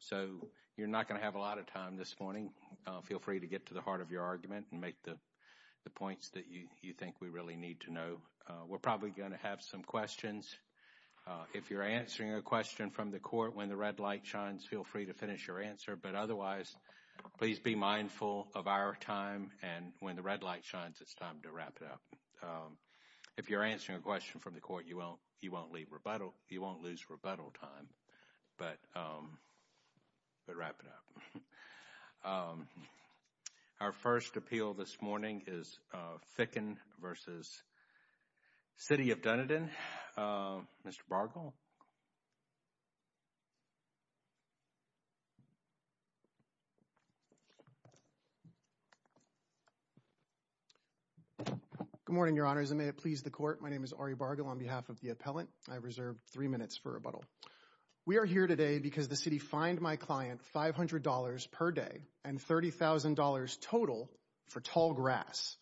So you're not going to have a lot of time this morning. Feel free to get to the heart of your argument and make the points that you think we really need to know. We're probably going to have some questions. If you're answering a question from the court when the red light shines, feel free to finish your answer. But otherwise, please be mindful of our time. And when the red light shines, it's time to wrap it up. If you're answering a question from the court, you won't lose rebuttal time. But wrap it up. Our first appeal this morning is Ficken v. City of Dunedin. Mr. Bargill? Good morning, Your Honors. And may it please the court, my name is Ari Bargill on behalf of the Reserved Three Minutes for Rebuttal. We are here today because the city fined my client $500 per day and $30,000 total for tall grass.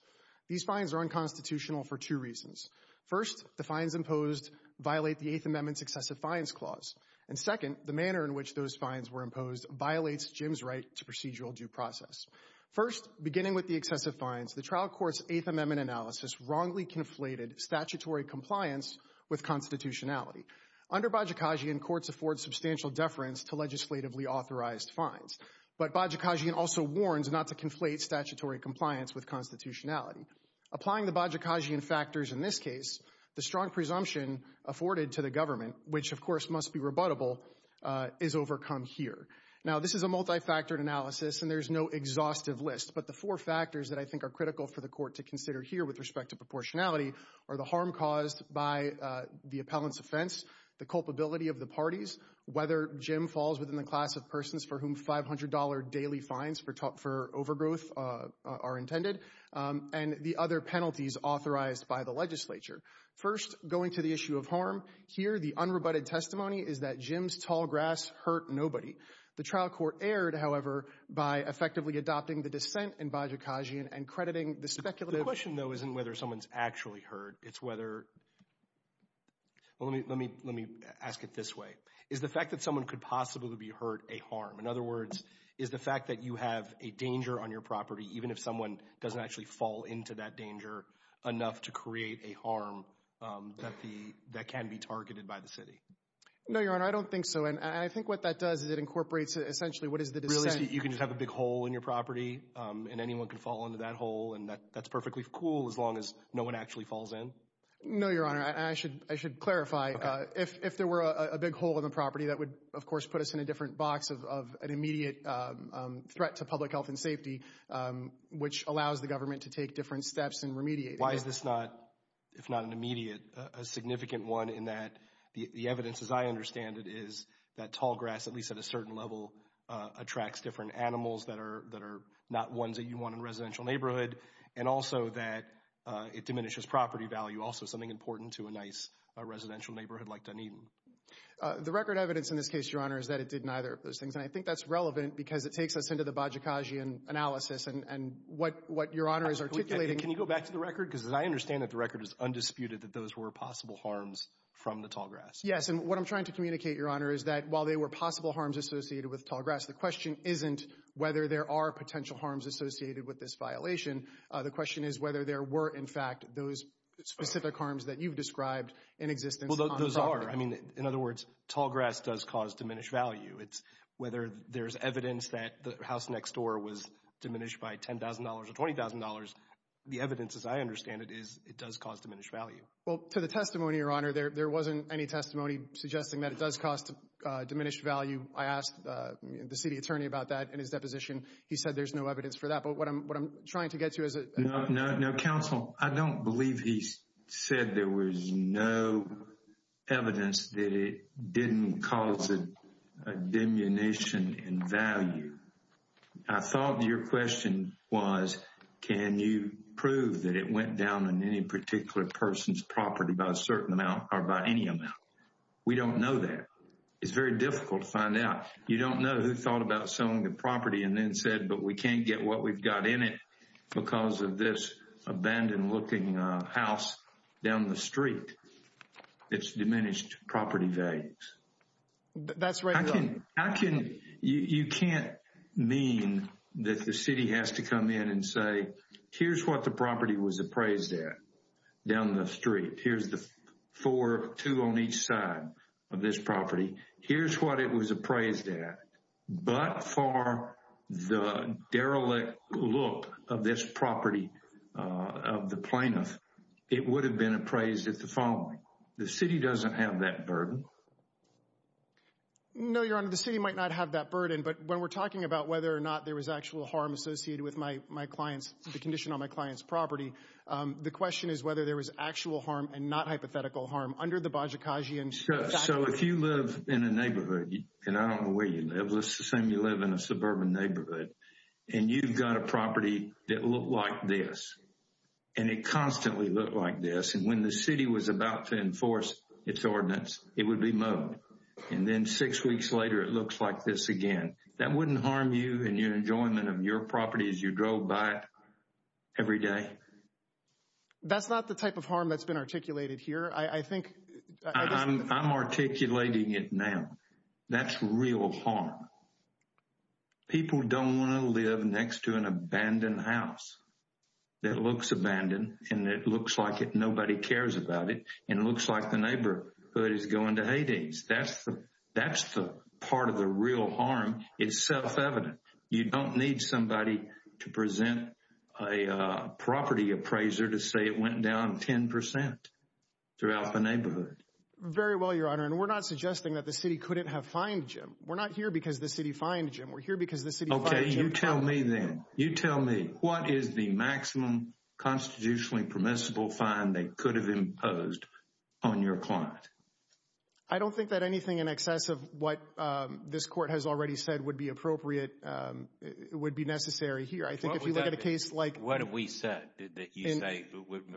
These fines are unconstitutional for two reasons. First, the fines imposed violate the Eighth Amendment's Excessive Fines Clause. And second, the manner in which those fines were imposed violates Jim's right to procedural due process. First, beginning with the excessive fines, the trial court's Eighth Amendment analysis wrongly conflated statutory compliance with constitutionality. Under Bajikashian, courts afford substantial deference to legislatively authorized fines. But Bajikashian also warns not to conflate statutory compliance with constitutionality. Applying the Bajikashian factors in this case, the strong presumption afforded to the government, which of course must be rebuttable, is overcome here. Now, this is a multifactored analysis and there's no exhaustive list, but the four factors that I think are critical for the court to consider here with respect to the harm caused by the appellant's offense, the culpability of the parties, whether Jim falls within the class of persons for whom $500 daily fines for overgrowth are intended, and the other penalties authorized by the legislature. First, going to the issue of harm, here the unrebutted testimony is that Jim's tall grass hurt nobody. The trial court erred, however, by effectively adopting the dissent in Bajikashian and crediting the speculative— Let me ask it this way. Is the fact that someone could possibly be hurt a harm? In other words, is the fact that you have a danger on your property, even if someone doesn't actually fall into that danger, enough to create a harm that can be targeted by the city? No, Your Honor, I don't think so. And I think what that does is it incorporates, essentially, what is the dissent— You can just have a big hole in your property and anyone can fall into that hole and that's cool as long as no one actually falls in. No, Your Honor, I should clarify. If there were a big hole in the property, that would, of course, put us in a different box of an immediate threat to public health and safety, which allows the government to take different steps in remediating that. Why is this not, if not an immediate, a significant one in that the evidence, as I understand it, is that tall grass, at least at a certain level, attracts different animals that are not ones that you want in a residential neighborhood, and also that it diminishes property value, also something important to a nice residential neighborhood like Dunedin. The record evidence in this case, Your Honor, is that it did neither of those things, and I think that's relevant because it takes us into the Bajikasian analysis and what Your Honor is articulating— Can you go back to the record? Because I understand that the record is undisputed that those were possible harms from the tall grass. Yes, and what I'm trying to communicate, Your Honor, is that while there were possible harms associated with tall grass, the question isn't whether there are potential harms associated with this violation. The question is whether there were, in fact, those specific harms that you've described in existence on the property. Those are. I mean, in other words, tall grass does cause diminished value. It's whether there's evidence that the house next door was diminished by $10,000 or $20,000. The evidence, as I understand it, is it does cause diminished value. Well, to the testimony, Your Honor, there wasn't any testimony suggesting that it does cause diminished value. I asked the city attorney about that in his deposition. He said there's no evidence for that. But what I'm trying to get to is— No, no, no. Counsel, I don't believe he said there was no evidence that it didn't cause a diminution in value. I thought your question was, can you prove that it went down on any particular person's property by a certain amount or by any amount? We don't know that. It's very difficult to find out. You don't know who thought about selling the property and we can't get what we've got in it because of this abandoned-looking house down the street. It's diminished property value. That's right. You can't mean that the city has to come in and say, here's what the property was appraised at down the street. Here's the two on each side of this property. Here's what it was appraised at. But for the derelict look of this property of the plaintiff, it would have been appraised at the following. The city doesn't have that burden. No, Your Honor, the city might not have that burden. But when we're talking about whether or not there was actual harm associated with the condition on my client's property, the question is whether there was actual harm and not hypothetical harm under the Bajikashian— So if you live in a neighborhood, and I don't know where you live, let's assume you live in a suburban neighborhood, and you've got a property that looked like this and it constantly looked like this. And when the city was about to enforce its ordinance, it would be mowed. And then six weeks later, it looks like this again. That wouldn't harm you and your enjoyment of your property as you drove by it every day? That's not the type of harm that's been articulated. I'm articulating it now. That's real harm. People don't want to live next to an abandoned house that looks abandoned, and it looks like nobody cares about it, and it looks like the neighborhood is going to haydays. That's the part of the real harm. It's self-evident. You don't need somebody to present a property appraiser to say it went down 10 percent throughout the neighborhood. And we're not suggesting that the city couldn't have fined Jim. We're not here because the city fined Jim. We're here because the city— Okay, you tell me then. You tell me. What is the maximum constitutionally permissible fine they could have imposed on your client? I don't think that anything in excess of what this court has already said would be appropriate, would be necessary here. I think if you look at a case like— What have we said that you say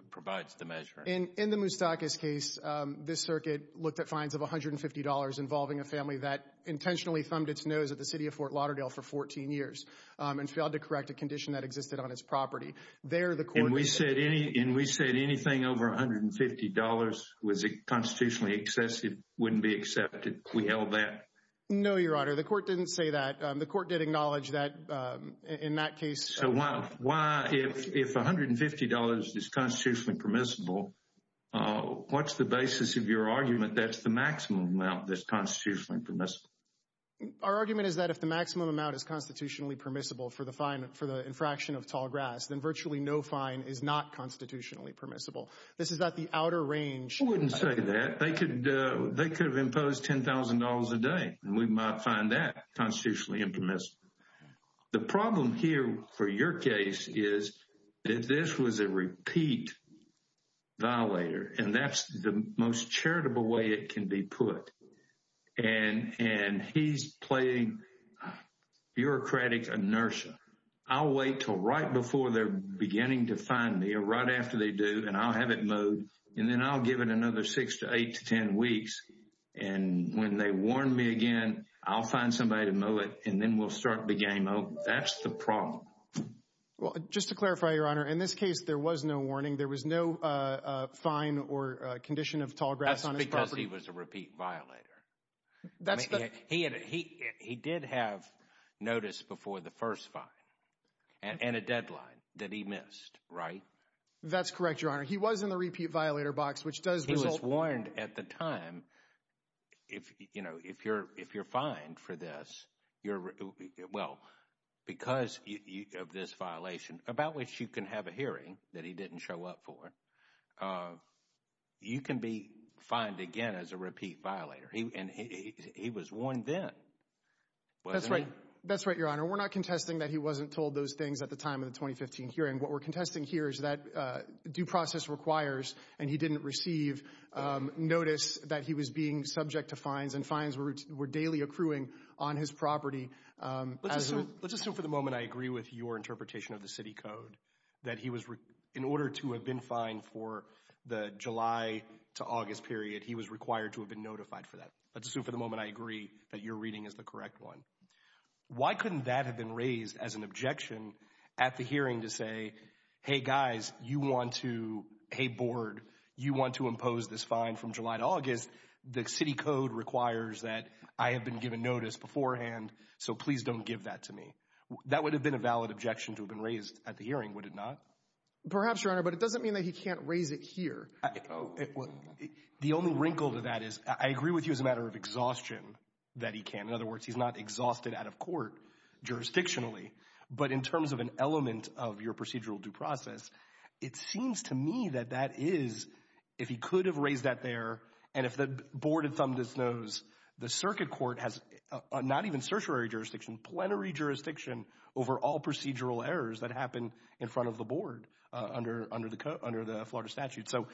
provides the measure? In the Moustakis case, this circuit looked at fines of $150 involving a family that intentionally thumbed its nose at the city of Fort Lauderdale for 14 years and failed to correct a condition that existed on its property. There, the court— And we said anything over $150 was constitutionally excessive wouldn't be accepted. We held that? No, Your Honor. The court didn't say that. The court did acknowledge that in that case— Why, if $150 is constitutionally permissible, what's the basis of your argument that's the maximum amount that's constitutionally permissible? Our argument is that if the maximum amount is constitutionally permissible for the infraction of tall grass, then virtually no fine is not constitutionally permissible. This is not the outer range— We wouldn't say that. They could have imposed $10,000 a day, and we might find that your case is that this was a repeat violator, and that's the most charitable way it can be put. He's playing bureaucratic inertia. I'll wait until right before they're beginning to fine me, or right after they do, and I'll have it mowed, and then I'll give it another six to eight to 10 weeks. When they warn me again, I'll find somebody to mow it, and then we'll start the game over. That's the problem. Well, just to clarify, Your Honor, in this case, there was no warning. There was no fine or condition of tall grass on his property. That's because he was a repeat violator. He did have notice before the first fine and a deadline that he missed, right? That's correct, Your Honor. He was in the repeat violator box, which does result— He was fined for this. Well, because of this violation, about which you can have a hearing that he didn't show up for, you can be fined again as a repeat violator. He was warned then, wasn't he? That's right. That's right, Your Honor. We're not contesting that he wasn't told those things at the time of the 2015 hearing. What we're contesting here is that due process requires, and he didn't receive notice that he was being subject to fines, and fines were daily accruing on his property. Let's assume for the moment I agree with your interpretation of the city code that in order to have been fined for the July to August period, he was required to have been notified for that. Let's assume for the moment I agree that your reading is the correct one. Why couldn't that have been raised as an objection at the hearing to say, hey guys, you want to—hey board, you want to impose this fine from July to August. The city code requires that I have been given notice beforehand, so please don't give that to me. That would have been a valid objection to have been raised at the hearing, would it not? Perhaps, Your Honor, but it doesn't mean that he can't raise it here. The only wrinkle to that is I agree with you as a matter of exhaustion that he can. In other words, he's not exhausted out of court jurisdictionally, but in terms of an element of your procedural due process, it seems to me that that is—if he could have raised that there, and if the board had thumbed its nose, the circuit court has not even certiorary jurisdiction, plenary jurisdiction over all procedural errors that happen in front of the board under the Florida statute. So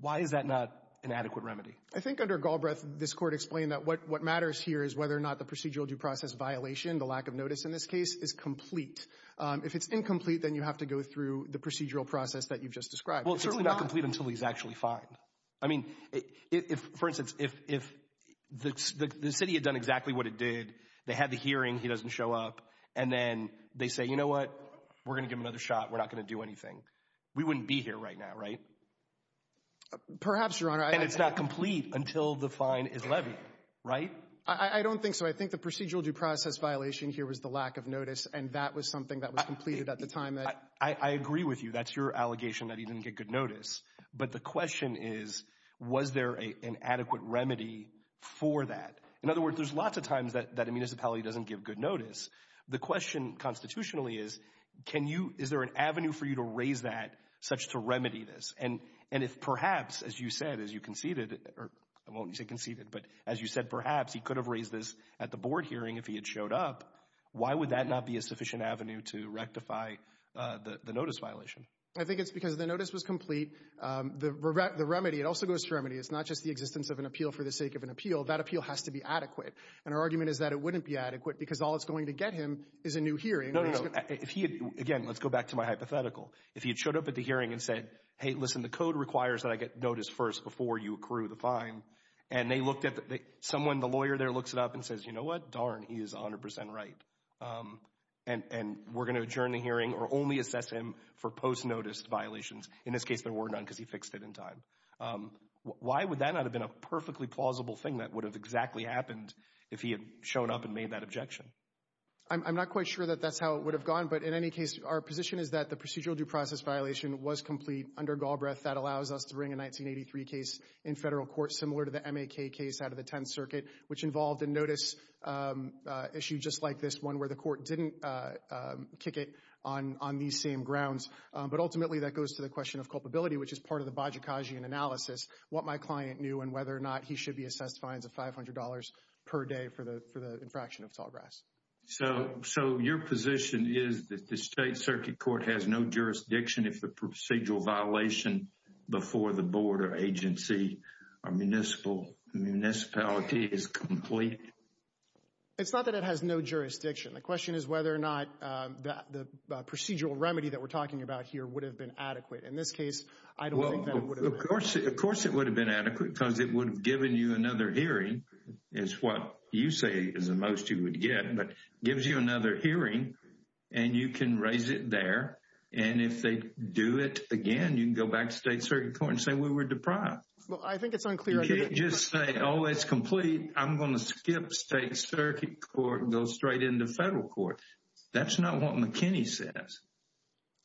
why is that not an adequate remedy? I think under Galbraith, this court explained that what matters here is whether or not the procedural due process violation, the lack of notice in this complete. If it's incomplete, then you have to go through the procedural process that you've just described. It's not— Well, it's certainly not complete until he's actually fined. I mean, for instance, if the city had done exactly what it did, they had the hearing, he doesn't show up, and then they say, you know what, we're going to give him another shot, we're not going to do anything, we wouldn't be here right now, right? Perhaps, Your Honor. And it's not complete until the fine is levied, right? I don't think so. I think the procedural due process violation here was the lack of notice, and that was something that was completed at the time that— I agree with you. That's your allegation that he didn't get good notice. But the question is, was there an adequate remedy for that? In other words, there's lots of times that a municipality doesn't give good notice. The question, constitutionally, is, can you—is there an avenue for you to raise that such to remedy this? And if perhaps, as you said, as you conceded—or I won't say conceded, but as you said, perhaps he could have raised this at the board hearing if he had showed up, why would that not be a sufficient avenue to rectify the notice violation? I think it's because the notice was complete. The remedy—it also goes to remedy. It's not just the existence of an appeal for the sake of an appeal. That appeal has to be adequate. And our argument is that it wouldn't be adequate because all it's going to get him is a new hearing. No, no, no. If he had—again, let's go back to my hypothetical. If he had showed up at the hearing and said, hey, listen, the code requires that I get notice first before you accrue the fine, and they looked at the—someone, the lawyer there, looks it up and says, you know what? Darn, he is 100% right. And we're going to adjourn the hearing or only assess him for post-notice violations. In this case, there were none because he fixed it in time. Why would that not have been a perfectly plausible thing that would have exactly happened if he had shown up and made that objection? I'm not quite sure that that's how it would have gone, but in any case, our position is that the procedural due process violation was complete under Galbraith. That allows us to bring a 1983 case in federal court, similar to the M.A.K. case out of the Tenth Circuit, which involved a notice issue just like this one where the court didn't kick it on these same grounds. But ultimately, that goes to the question of culpability, which is part of the Bajikasian analysis—what my client knew and whether or not he should be assessed fines of $500 per day for the infraction of tallgrass. So your position is that the State violation before the Board or agency or municipality is complete? It's not that it has no jurisdiction. The question is whether or not the procedural remedy that we're talking about here would have been adequate. In this case, I don't think that it would have been. Of course it would have been adequate because it would have given you another hearing, is what you say is the most you would get, but gives you another hearing and you can raise it there. And if they do it again, you can go back to the State Circuit Court and say we were deprived. Well, I think it's unclear. You can't just say, oh, it's complete. I'm going to skip State Circuit Court and go straight into federal court. That's not what McKinney says.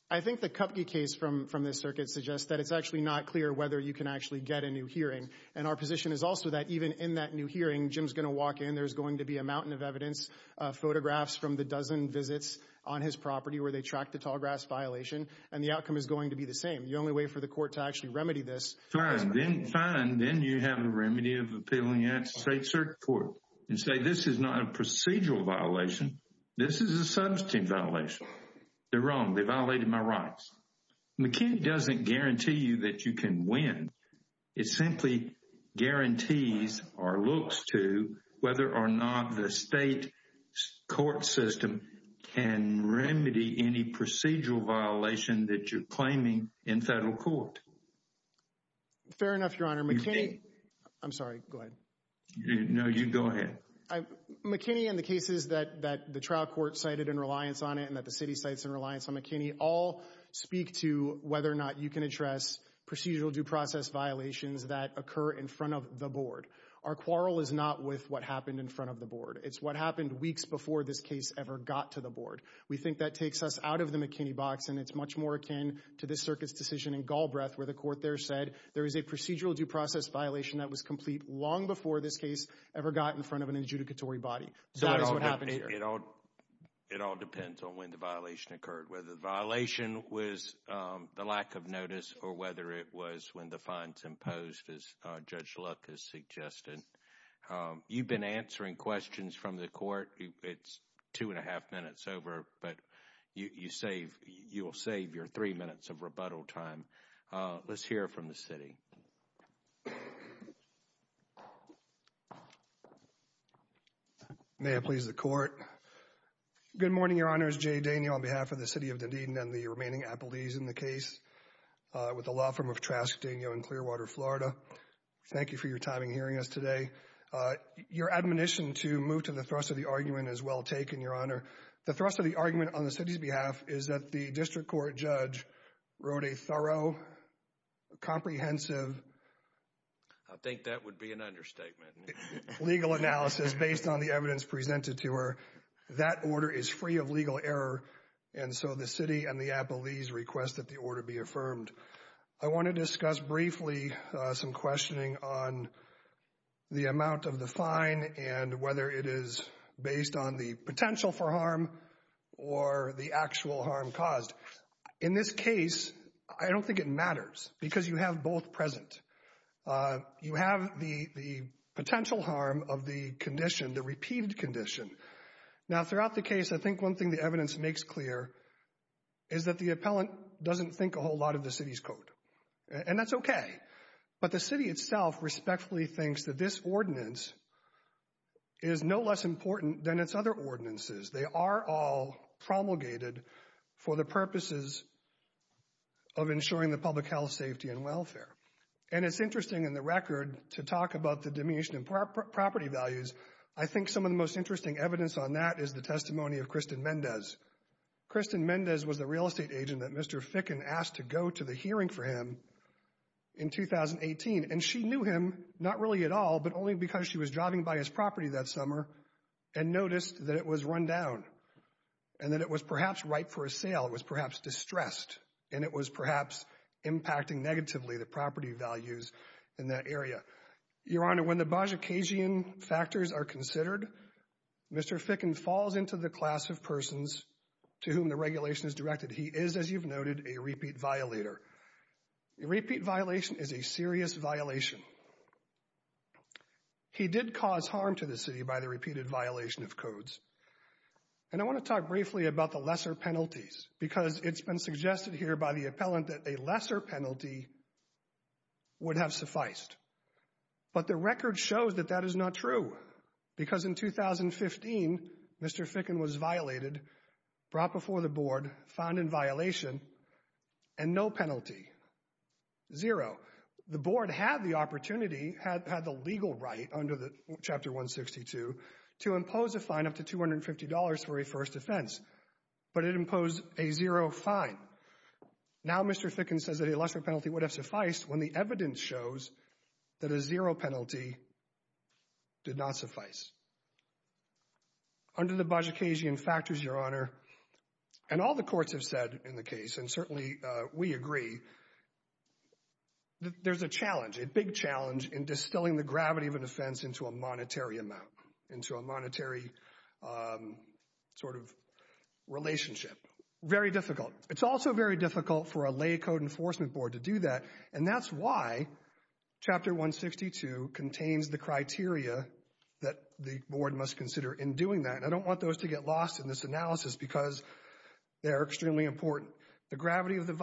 I think the Kupke case from this circuit suggests that it's actually not clear whether you can actually get a new hearing. And our position is also that even in that new hearing, Jim's going to walk in, there's going to be a mountain of evidence, photographs from the dozen visits on his property where they tracked the tallgrass violation. And the outcome is going to be the same. The only way for the court to actually remedy this. Fine. Then you have a remedy of appealing at State Circuit Court and say this is not a procedural violation. This is a substantive violation. They're wrong. They violated my rights. McKinney doesn't guarantee you that you can win. It simply guarantees or looks to whether or not the state court system can remedy any procedural violation that you're claiming in federal court. Fair enough, Your Honor. I'm sorry. Go ahead. No, you go ahead. McKinney and the cases that the trial court cited in reliance on it and that the city cites in reliance on McKinney all speak to whether or not you can address procedural due process violations that occur in front of the board. Our quarrel is not with what happened in front of the board. It's what happened weeks before this case ever got to the board. We think that takes us out of the McKinney box and it's much more akin to this circuit's decision in Galbraith where the court there said there is a procedural due process violation that was complete long before this case ever got in front of an adjudicatory body. So that's what happened here. It all depends on when the violation occurred. Whether the violation was the lack of notice or whether it was when the fines imposed as Judge Luck has suggested. You've been answering questions from the court. It's two and a half minutes over, but you save, you will save your three minutes of rebuttal time. Let's hear from the city. May it please the court. Good morning, Your Honor. It's Jay Daniel on behalf of the city of Dunedin and the remaining appellees in the case with the law firm of Trascadena in Clearwater, Florida. Thank you for your time in hearing us today. Your admonition to move to the thrust of the argument is well taken, Your Honor. The thrust of the argument on the city's behalf is that the district court judge wrote a thorough, comprehensive... I think that would be an understatement. Legal analysis based on the evidence presented to her. That order is free of legal error, and so the city and the appellees request that the order be affirmed. I want to discuss briefly some questioning on the amount of the fine and whether it is based on the potential for harm or the actual harm caused. In this case, I don't think it matters because you have both present. You have the potential harm of the condition, the repeated condition. Now, throughout the case, I think one thing the evidence makes clear is that the appellant doesn't think a whole lot of the city's code, and that's okay. But the city itself respectfully thinks that this ordinance is no less important than its other ordinances. They are all promulgated for the purposes of ensuring the public health, safety, and welfare. And it's interesting in the record to talk about the diminution in property values. I think some of the most interesting evidence on that is the testimony of Kristen Mendez. Kristen Mendez was the real estate agent that Mr. Ficken asked to go to the hearing for him in 2018, and she knew him, not really at all, but only because she was driving by his property that summer and noticed that it was run down and that it was perhaps ripe for a sale. It was perhaps distressed, and it was perhaps impacting negatively the property values in that area. Your Honor, when the Bozsikagian factors are considered, Mr. Ficken falls into the class of persons to whom the regulation is directed. He is, as you've noted, a repeat violator. A repeat violation is a serious violation. He did cause harm to the city by the repeated violation of codes. And I want to talk briefly about the lesser penalties, because it's been suggested here by the appellant that a lesser penalty would have sufficed. But the record shows that that is not true, because in 2015, Mr. Ficken was violated, brought before the Board, found in violation, and no penalty. Zero. The Board had the opportunity, had the legal right under Chapter 162 to impose a fine up to $250 for a first offense, but it imposed a zero fine. Now Mr. Ficken says that a lesser penalty would have sufficed when the evidence shows that a zero penalty did not suffice. Under the Bozsikagian factors, Your Honor, and all the courts have said in the case, and certainly we agree, that there's a challenge, a big challenge in distilling the gravity of an offense into a monetary amount, into a monetary sort of relationship. Very difficult. It's also very difficult for a lay code enforcement board to do that, and that's why Chapter 162 contains the criteria that the Board must consider in doing that. And I don't want those to get lost in this The gravity of the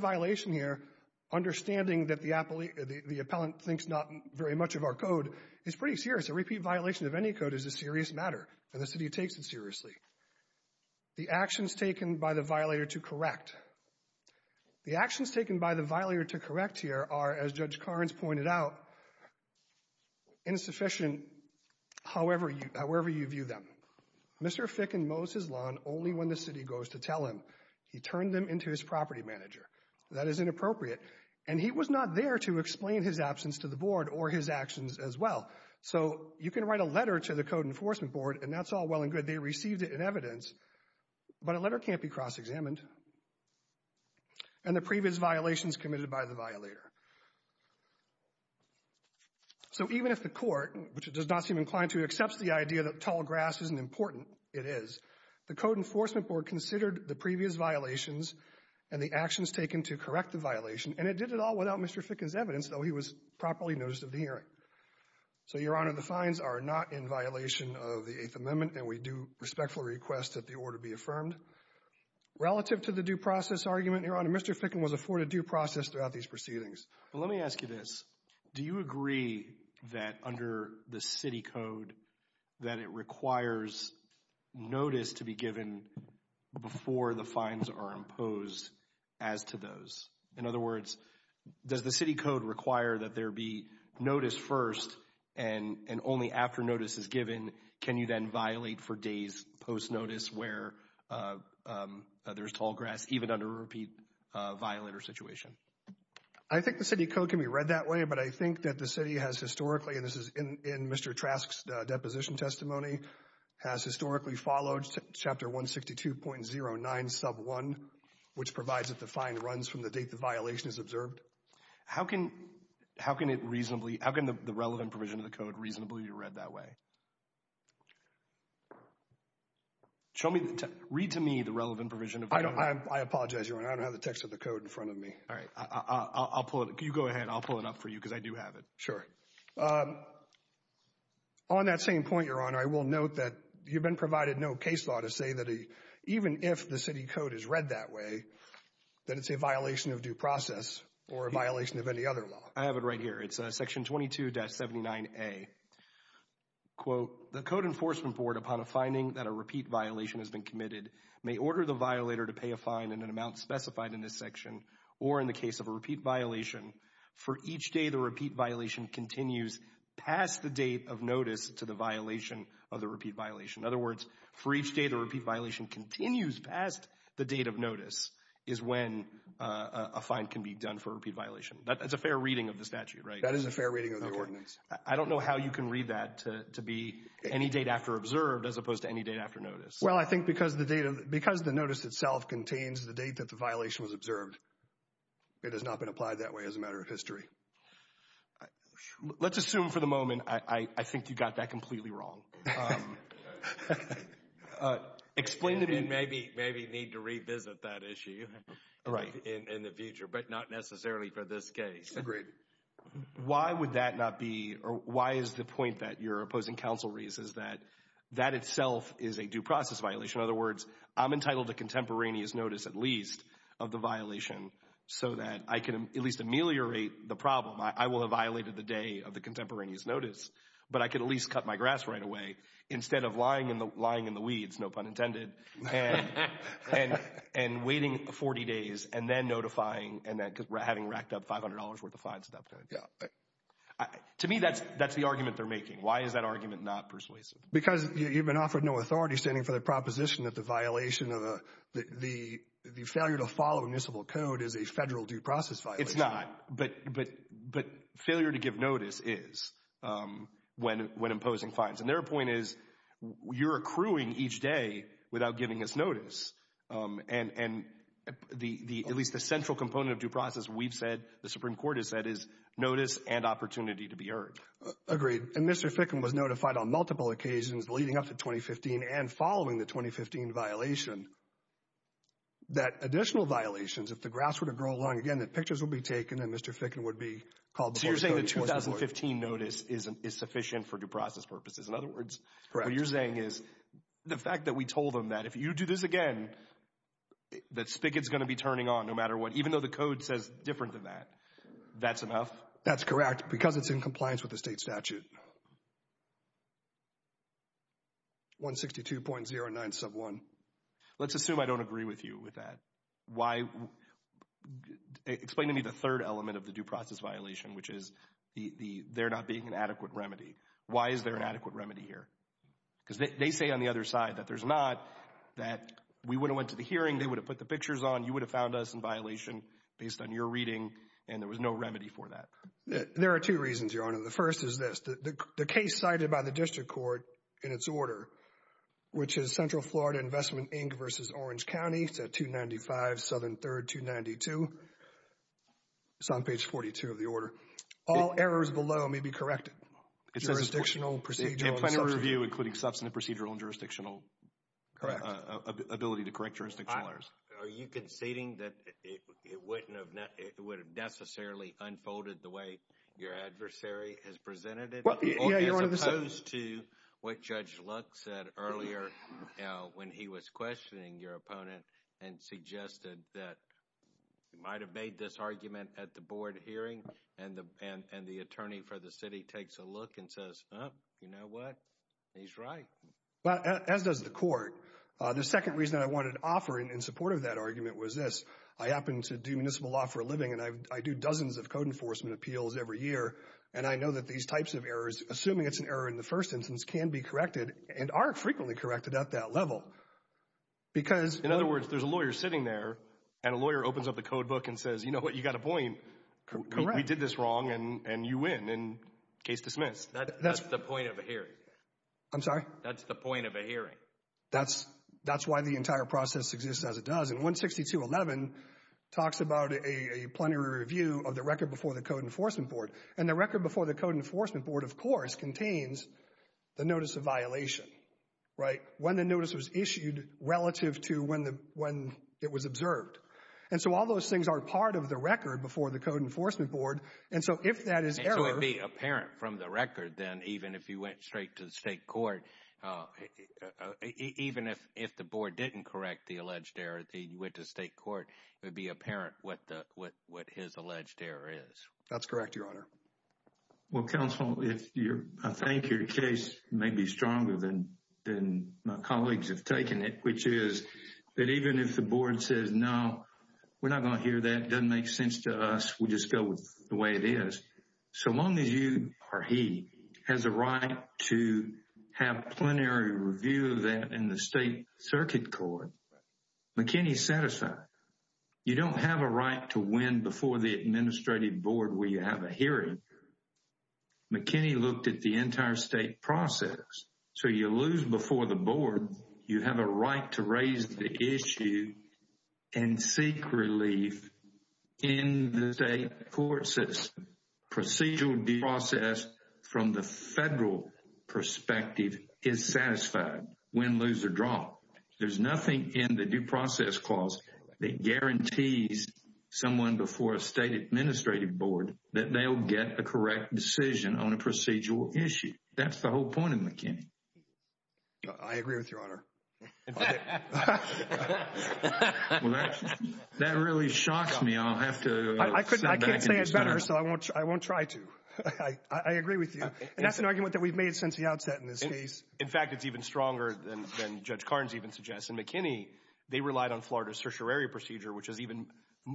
violation here, understanding that the appellate, the appellant thinks not very much of our code, is pretty serious. A repeat violation of any code is a serious matter, and the city takes it seriously. The actions taken by the violator to correct. The actions taken by the violator to correct here are, as Judge Carnes pointed out, insufficient however you, however you view them. Mr. Ficken mows his lawn only when the city goes to tell him. He turned them into his property manager. That is inappropriate, and he was not there to explain his absence to the Board or his actions as well. So you can write a letter to the code enforcement board, and that's all well and good. They received it in evidence, but a letter can't be cross-examined and the previous violations committed by the violator. So even if the court, which it does not seem inclined to, accepts the idea that tall grass isn't important, it is, the code enforcement board considered the previous violations and the actions taken to correct the violation, and it did it all without Mr. Ficken's evidence, though he was properly noticed of the hearing. So, Your Honor, the fines are not in violation of the Eighth Amendment, and we do respectfully request that the order be affirmed. Relative to the due process argument, Your Honor, Mr. Ficken was afforded due process throughout these proceedings. Let me ask you this. Do you agree that under the city code that it requires notice to be given before the fines are imposed as to those? In other words, does the city code require that there be notice first and only after notice is given can you then violate for days post-notice where there's tall grass, even under a repeat violator situation? I think the city code can be read that way, but I think that the city has historically, in Mr. Trask's deposition testimony, has historically followed chapter 162.09 sub 1, which provides that the fine runs from the date the violation is observed. How can the relevant provision of the code reasonably be read that way? Read to me the relevant provision of the code. I apologize, Your Honor. I don't have the text of the code in front of me. All right. You go ahead. I'll pull it up for you because I do have it. Sure. On that same point, Your Honor, I will note that you've been provided no case law to say that even if the city code is read that way, that it's a violation of due process or a violation of any other law. I have it right here. It's section 22.79a. The code enforcement board, upon a finding that a repeat violation has been committed, may order the violator to pay a fine in an amount specified in this section or in the case of a continues past the date of notice to the violation of the repeat violation. In other words, for each date a repeat violation continues past the date of notice is when a fine can be done for a repeat violation. That's a fair reading of the statute, right? That is a fair reading of the ordinance. I don't know how you can read that to be any date after observed as opposed to any date after notice. Well, I think because the notice itself contains the date that the violation was observed, it has not been applied that way as a matter of history. Let's assume for the moment I think you got that completely wrong. Explain to me. Maybe need to revisit that issue in the future, but not necessarily for this case. Agreed. Why would that not be or why is the point that you're opposing counsel reasons that that itself is a due process violation? In other words, I'm entitled to contemporaneous notice at of the violation so that I can at least ameliorate the problem. I will have violated the day of the contemporaneous notice, but I could at least cut my grass right away instead of lying in the weeds, no pun intended, and waiting 40 days and then notifying and then having racked up $500 worth of fines. To me, that's the argument they're making. Why is that argument not persuasive? Because you've been offered no authority standing for the proposition that the violation of the failure to follow municipal code is a federal due process violation. It's not, but failure to give notice is when imposing fines. And their point is you're accruing each day without giving us notice. And at least the central component of due process, we've said, the Supreme Court has said, is notice and opportunity to be heard. Agreed. And Mr. Fickham was notified on multiple occasions leading up to 2015 and following the 2015 violation that additional violations, if the grass were to grow long again, that pictures will be taken and Mr. Fickham would be called before the court. So you're saying the 2015 notice is sufficient for due process purposes. In other words, what you're saying is the fact that we told them that if you do this again, that Spickett's going to be turning on no matter what, even though the code says different than that, that's enough? That's correct because it's in compliance with the state statute. 162.09 sub 1. Let's assume I don't agree with you with that. Why? Explain to me the third element of the due process violation, which is they're not being an adequate remedy. Why is there an adequate remedy here? Because they say on the other side that there's not, that we wouldn't went to the hearing, they would have put the pictures on, you would have found us in violation based on your reading, and there was no remedy for that. There are two reasons, Your Honor. The first is this. The case cited by the district court in its order, which is Central Florida Investment, Inc. versus Orange County, it's at 295 Southern 3rd, 292. It's on page 42 of the order. All errors below may be corrected. Jurisdictional, procedural, and substantive. They have plenty of review, including substantive, procedural, and jurisdictional ability to correct jurisdictional errors. Are you conceding that it wouldn't have, it would have necessarily unfolded the way your adversary has presented it, as opposed to what Judge Luck said earlier when he was questioning your opponent and suggested that you might have made this argument at the board hearing, and the attorney for the city takes a look and says, oh, you know what? He's right. Well, as does the court. The second reason I wanted to offer in support of that argument was this. I happen to do municipal law for a living, and I do dozens of code enforcement appeals every year, and I know that these types of errors, assuming it's an error in the first instance, can be corrected and are frequently corrected at that level because... In other words, there's a lawyer sitting there, and a lawyer opens up the code book and says, you know what? You got a point. We did this wrong, and you win, and case dismissed. That's the point of a hearing. I'm sorry? That's the point of a hearing. That's why the entire process exists as it does, and 162.11 talks about a plenary review of the record before the Code Enforcement Board, and the record before the Code Enforcement Board, of course, contains the notice of violation, right? When the notice was issued relative to when it was observed, and so all those things are part of the record before the Code Enforcement Board, and so if that is error... And so it'd be apparent from the record, then, even if you went straight to the state court, even if the board didn't correct the alleged error, you went to the state court, it would be apparent what his alleged error is. That's correct, Your Honor. Well, counsel, I think your case may be stronger than my colleagues have taken it, which is that even if the board says, no, we're not going to hear that. It doesn't make sense to us. We'll just go with the way it is. So long as you or he has a right to have plenary review of that in the state circuit court, McKinney's satisfied. You don't have a right to win before the administrative board where you have a hearing. McKinney looked at the entire state process. So you lose before the board, you have a right to raise the issue and seek relief in the state court system. Procedural due process from the federal perspective is satisfied win, lose or draw. There's nothing in the due process clause that guarantees someone before a state administrative board that they'll get the correct decision on a procedural issue. That's the whole point of McKinney. I agree with you, Your Honor. That really shocks me. I'll have to... I can't say it better, so I won't try to. I agree with you. And that's an argument that we've made since the outset in this case. In fact, it's even stronger than Judge Carnes even suggests. In McKinney, they relied on Florida's certiorari procedure, which is even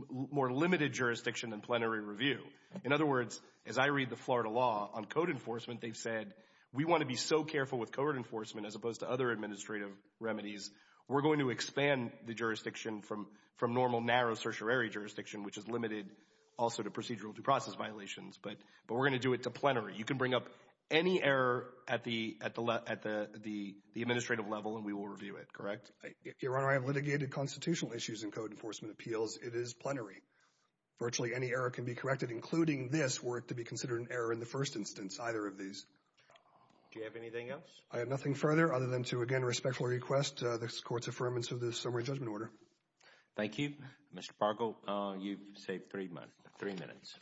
more limited jurisdiction than plenary review. In other words, as I read the Florida law on code enforcement, they've said, we want to be so careful with code enforcement as opposed to other administrative remedies, we're going to expand the jurisdiction from normal narrow certiorari jurisdiction, which is limited also to procedural due process violations. But we're going to do it to plenary. You can bring up any error at the administrative level and we will review it, correct? Your Honor, I have litigated constitutional issues in code enforcement appeals. It is plenary. Virtually any error can be corrected, including this were it to be considered an error in the first instance, either of these. Do you have anything else? I have nothing further other than to again respectfully request this Court's affirmance of the summary judgment order. Thank you. Mr. Fargo, you've saved three minutes.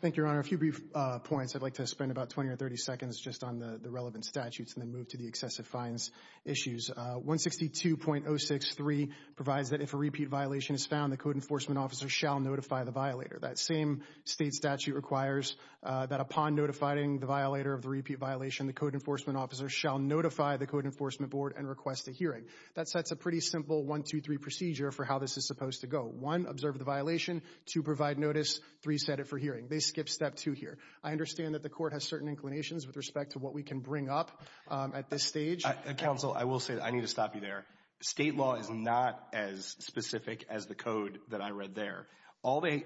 Thank you, Your Honor. A few brief points. I'd like to spend about 20 or 30 seconds just on the relevant statutes and then move to the excessive fines issues. 162.063 provides that if a repeat violation is found, the code enforcement officer shall notify the violator. That same state statute requires that upon notifying the violator of the repeat violation, the code enforcement officer shall notify the code enforcement board and request a hearing. That sets a pretty simple 1-2-3 procedure for how this is supposed to go. One, observe the violation. Two, provide notice. Three, set it for hearing. They skip step two here. I understand that the Court has certain inclinations with respect to what we can bring up at this stage. Counsel, I will say I need to stop you there. State law is not as specific as the code that I read there.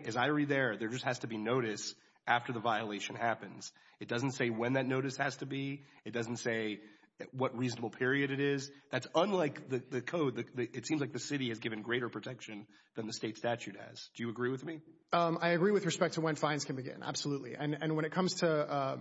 As I read there, there just has to be notice after the violation happens. It doesn't say when that notice has to be. It doesn't say what reasonable period it is. That's unlike the code. It seems like the city has given greater protection than the state statute has. Do you agree with me? I agree with respect to when fines can begin. Absolutely. And when it comes to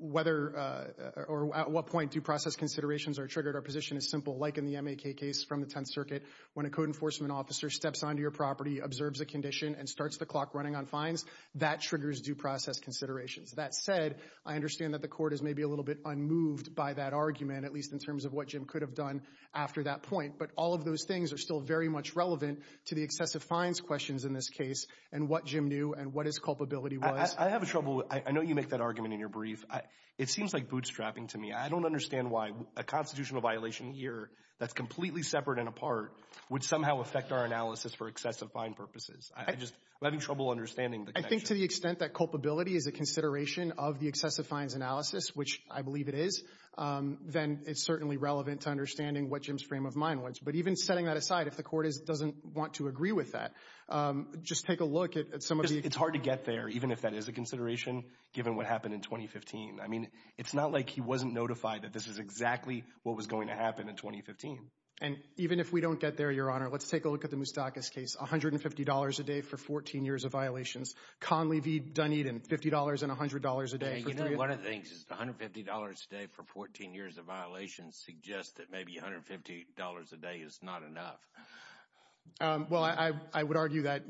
whether or at what point due process considerations are triggered, our position is simple. Like in the MAK case from the Tenth Circuit, when a code enforcement officer steps onto your property, observes a condition, and starts the clock running on fines, that triggers due process considerations. That said, I understand that the Court is maybe a little bit unmoved by that argument, at least in terms of what Jim could have done after that point. But all of those things are still very much relevant to the excessive fines questions in this case and what Jim knew and what his culpability was. I have a trouble. I know you make that argument in your brief. It seems like bootstrapping to me. I don't understand why a constitutional violation here that's completely separate and apart would somehow affect our analysis for excessive fine purposes. I'm just having trouble understanding the connection. I think to the extent that culpability is a consideration of the excessive fines analysis, which I believe it is, then it's certainly relevant to understanding what Jim's frame of mind was. But even setting that aside, if the Court doesn't want to agree with that, just take a look at some of the— It's hard to get there, even if that is a consideration, given what happened in 2015. I mean, it's not like he wasn't notified that this is exactly what was going to happen in 2015. And even if we don't get there, Your Honor, let's take a look at the Moustakas case. $150 a day for 14 years of violations. Conley v. Dunedin, $50 and $100 a day. You know, one of the things is $150 a day for 14 years of violations suggests that maybe $150 a day is not enough. Well, I would argue that,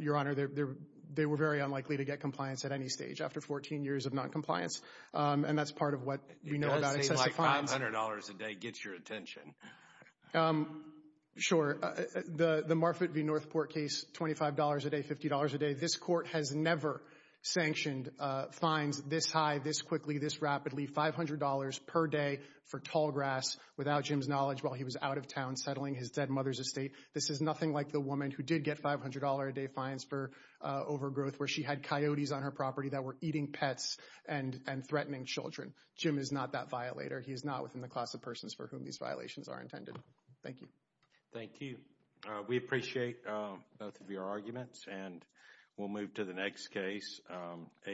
they were very unlikely to get compliance at any stage after 14 years of noncompliance. And that's part of what we know about excessive fines. $500 a day gets your attention. Sure. The Marfitt v. Northport case, $25 a day, $50 a day. This Court has never sanctioned fines this high, this quickly, this rapidly. $500 per day for Tallgrass, without Jim's knowledge, while he was out of town settling his dead mother's estate. This is nothing like the woman who did get $500 a day fines for overgrowth where she had coyotes on her property that were eating pets and threatening children. Jim is not that violator. He is not within the class of persons for whom these violations are intended. Thank you. Thank you. We appreciate both of your arguments and we'll move to the next case,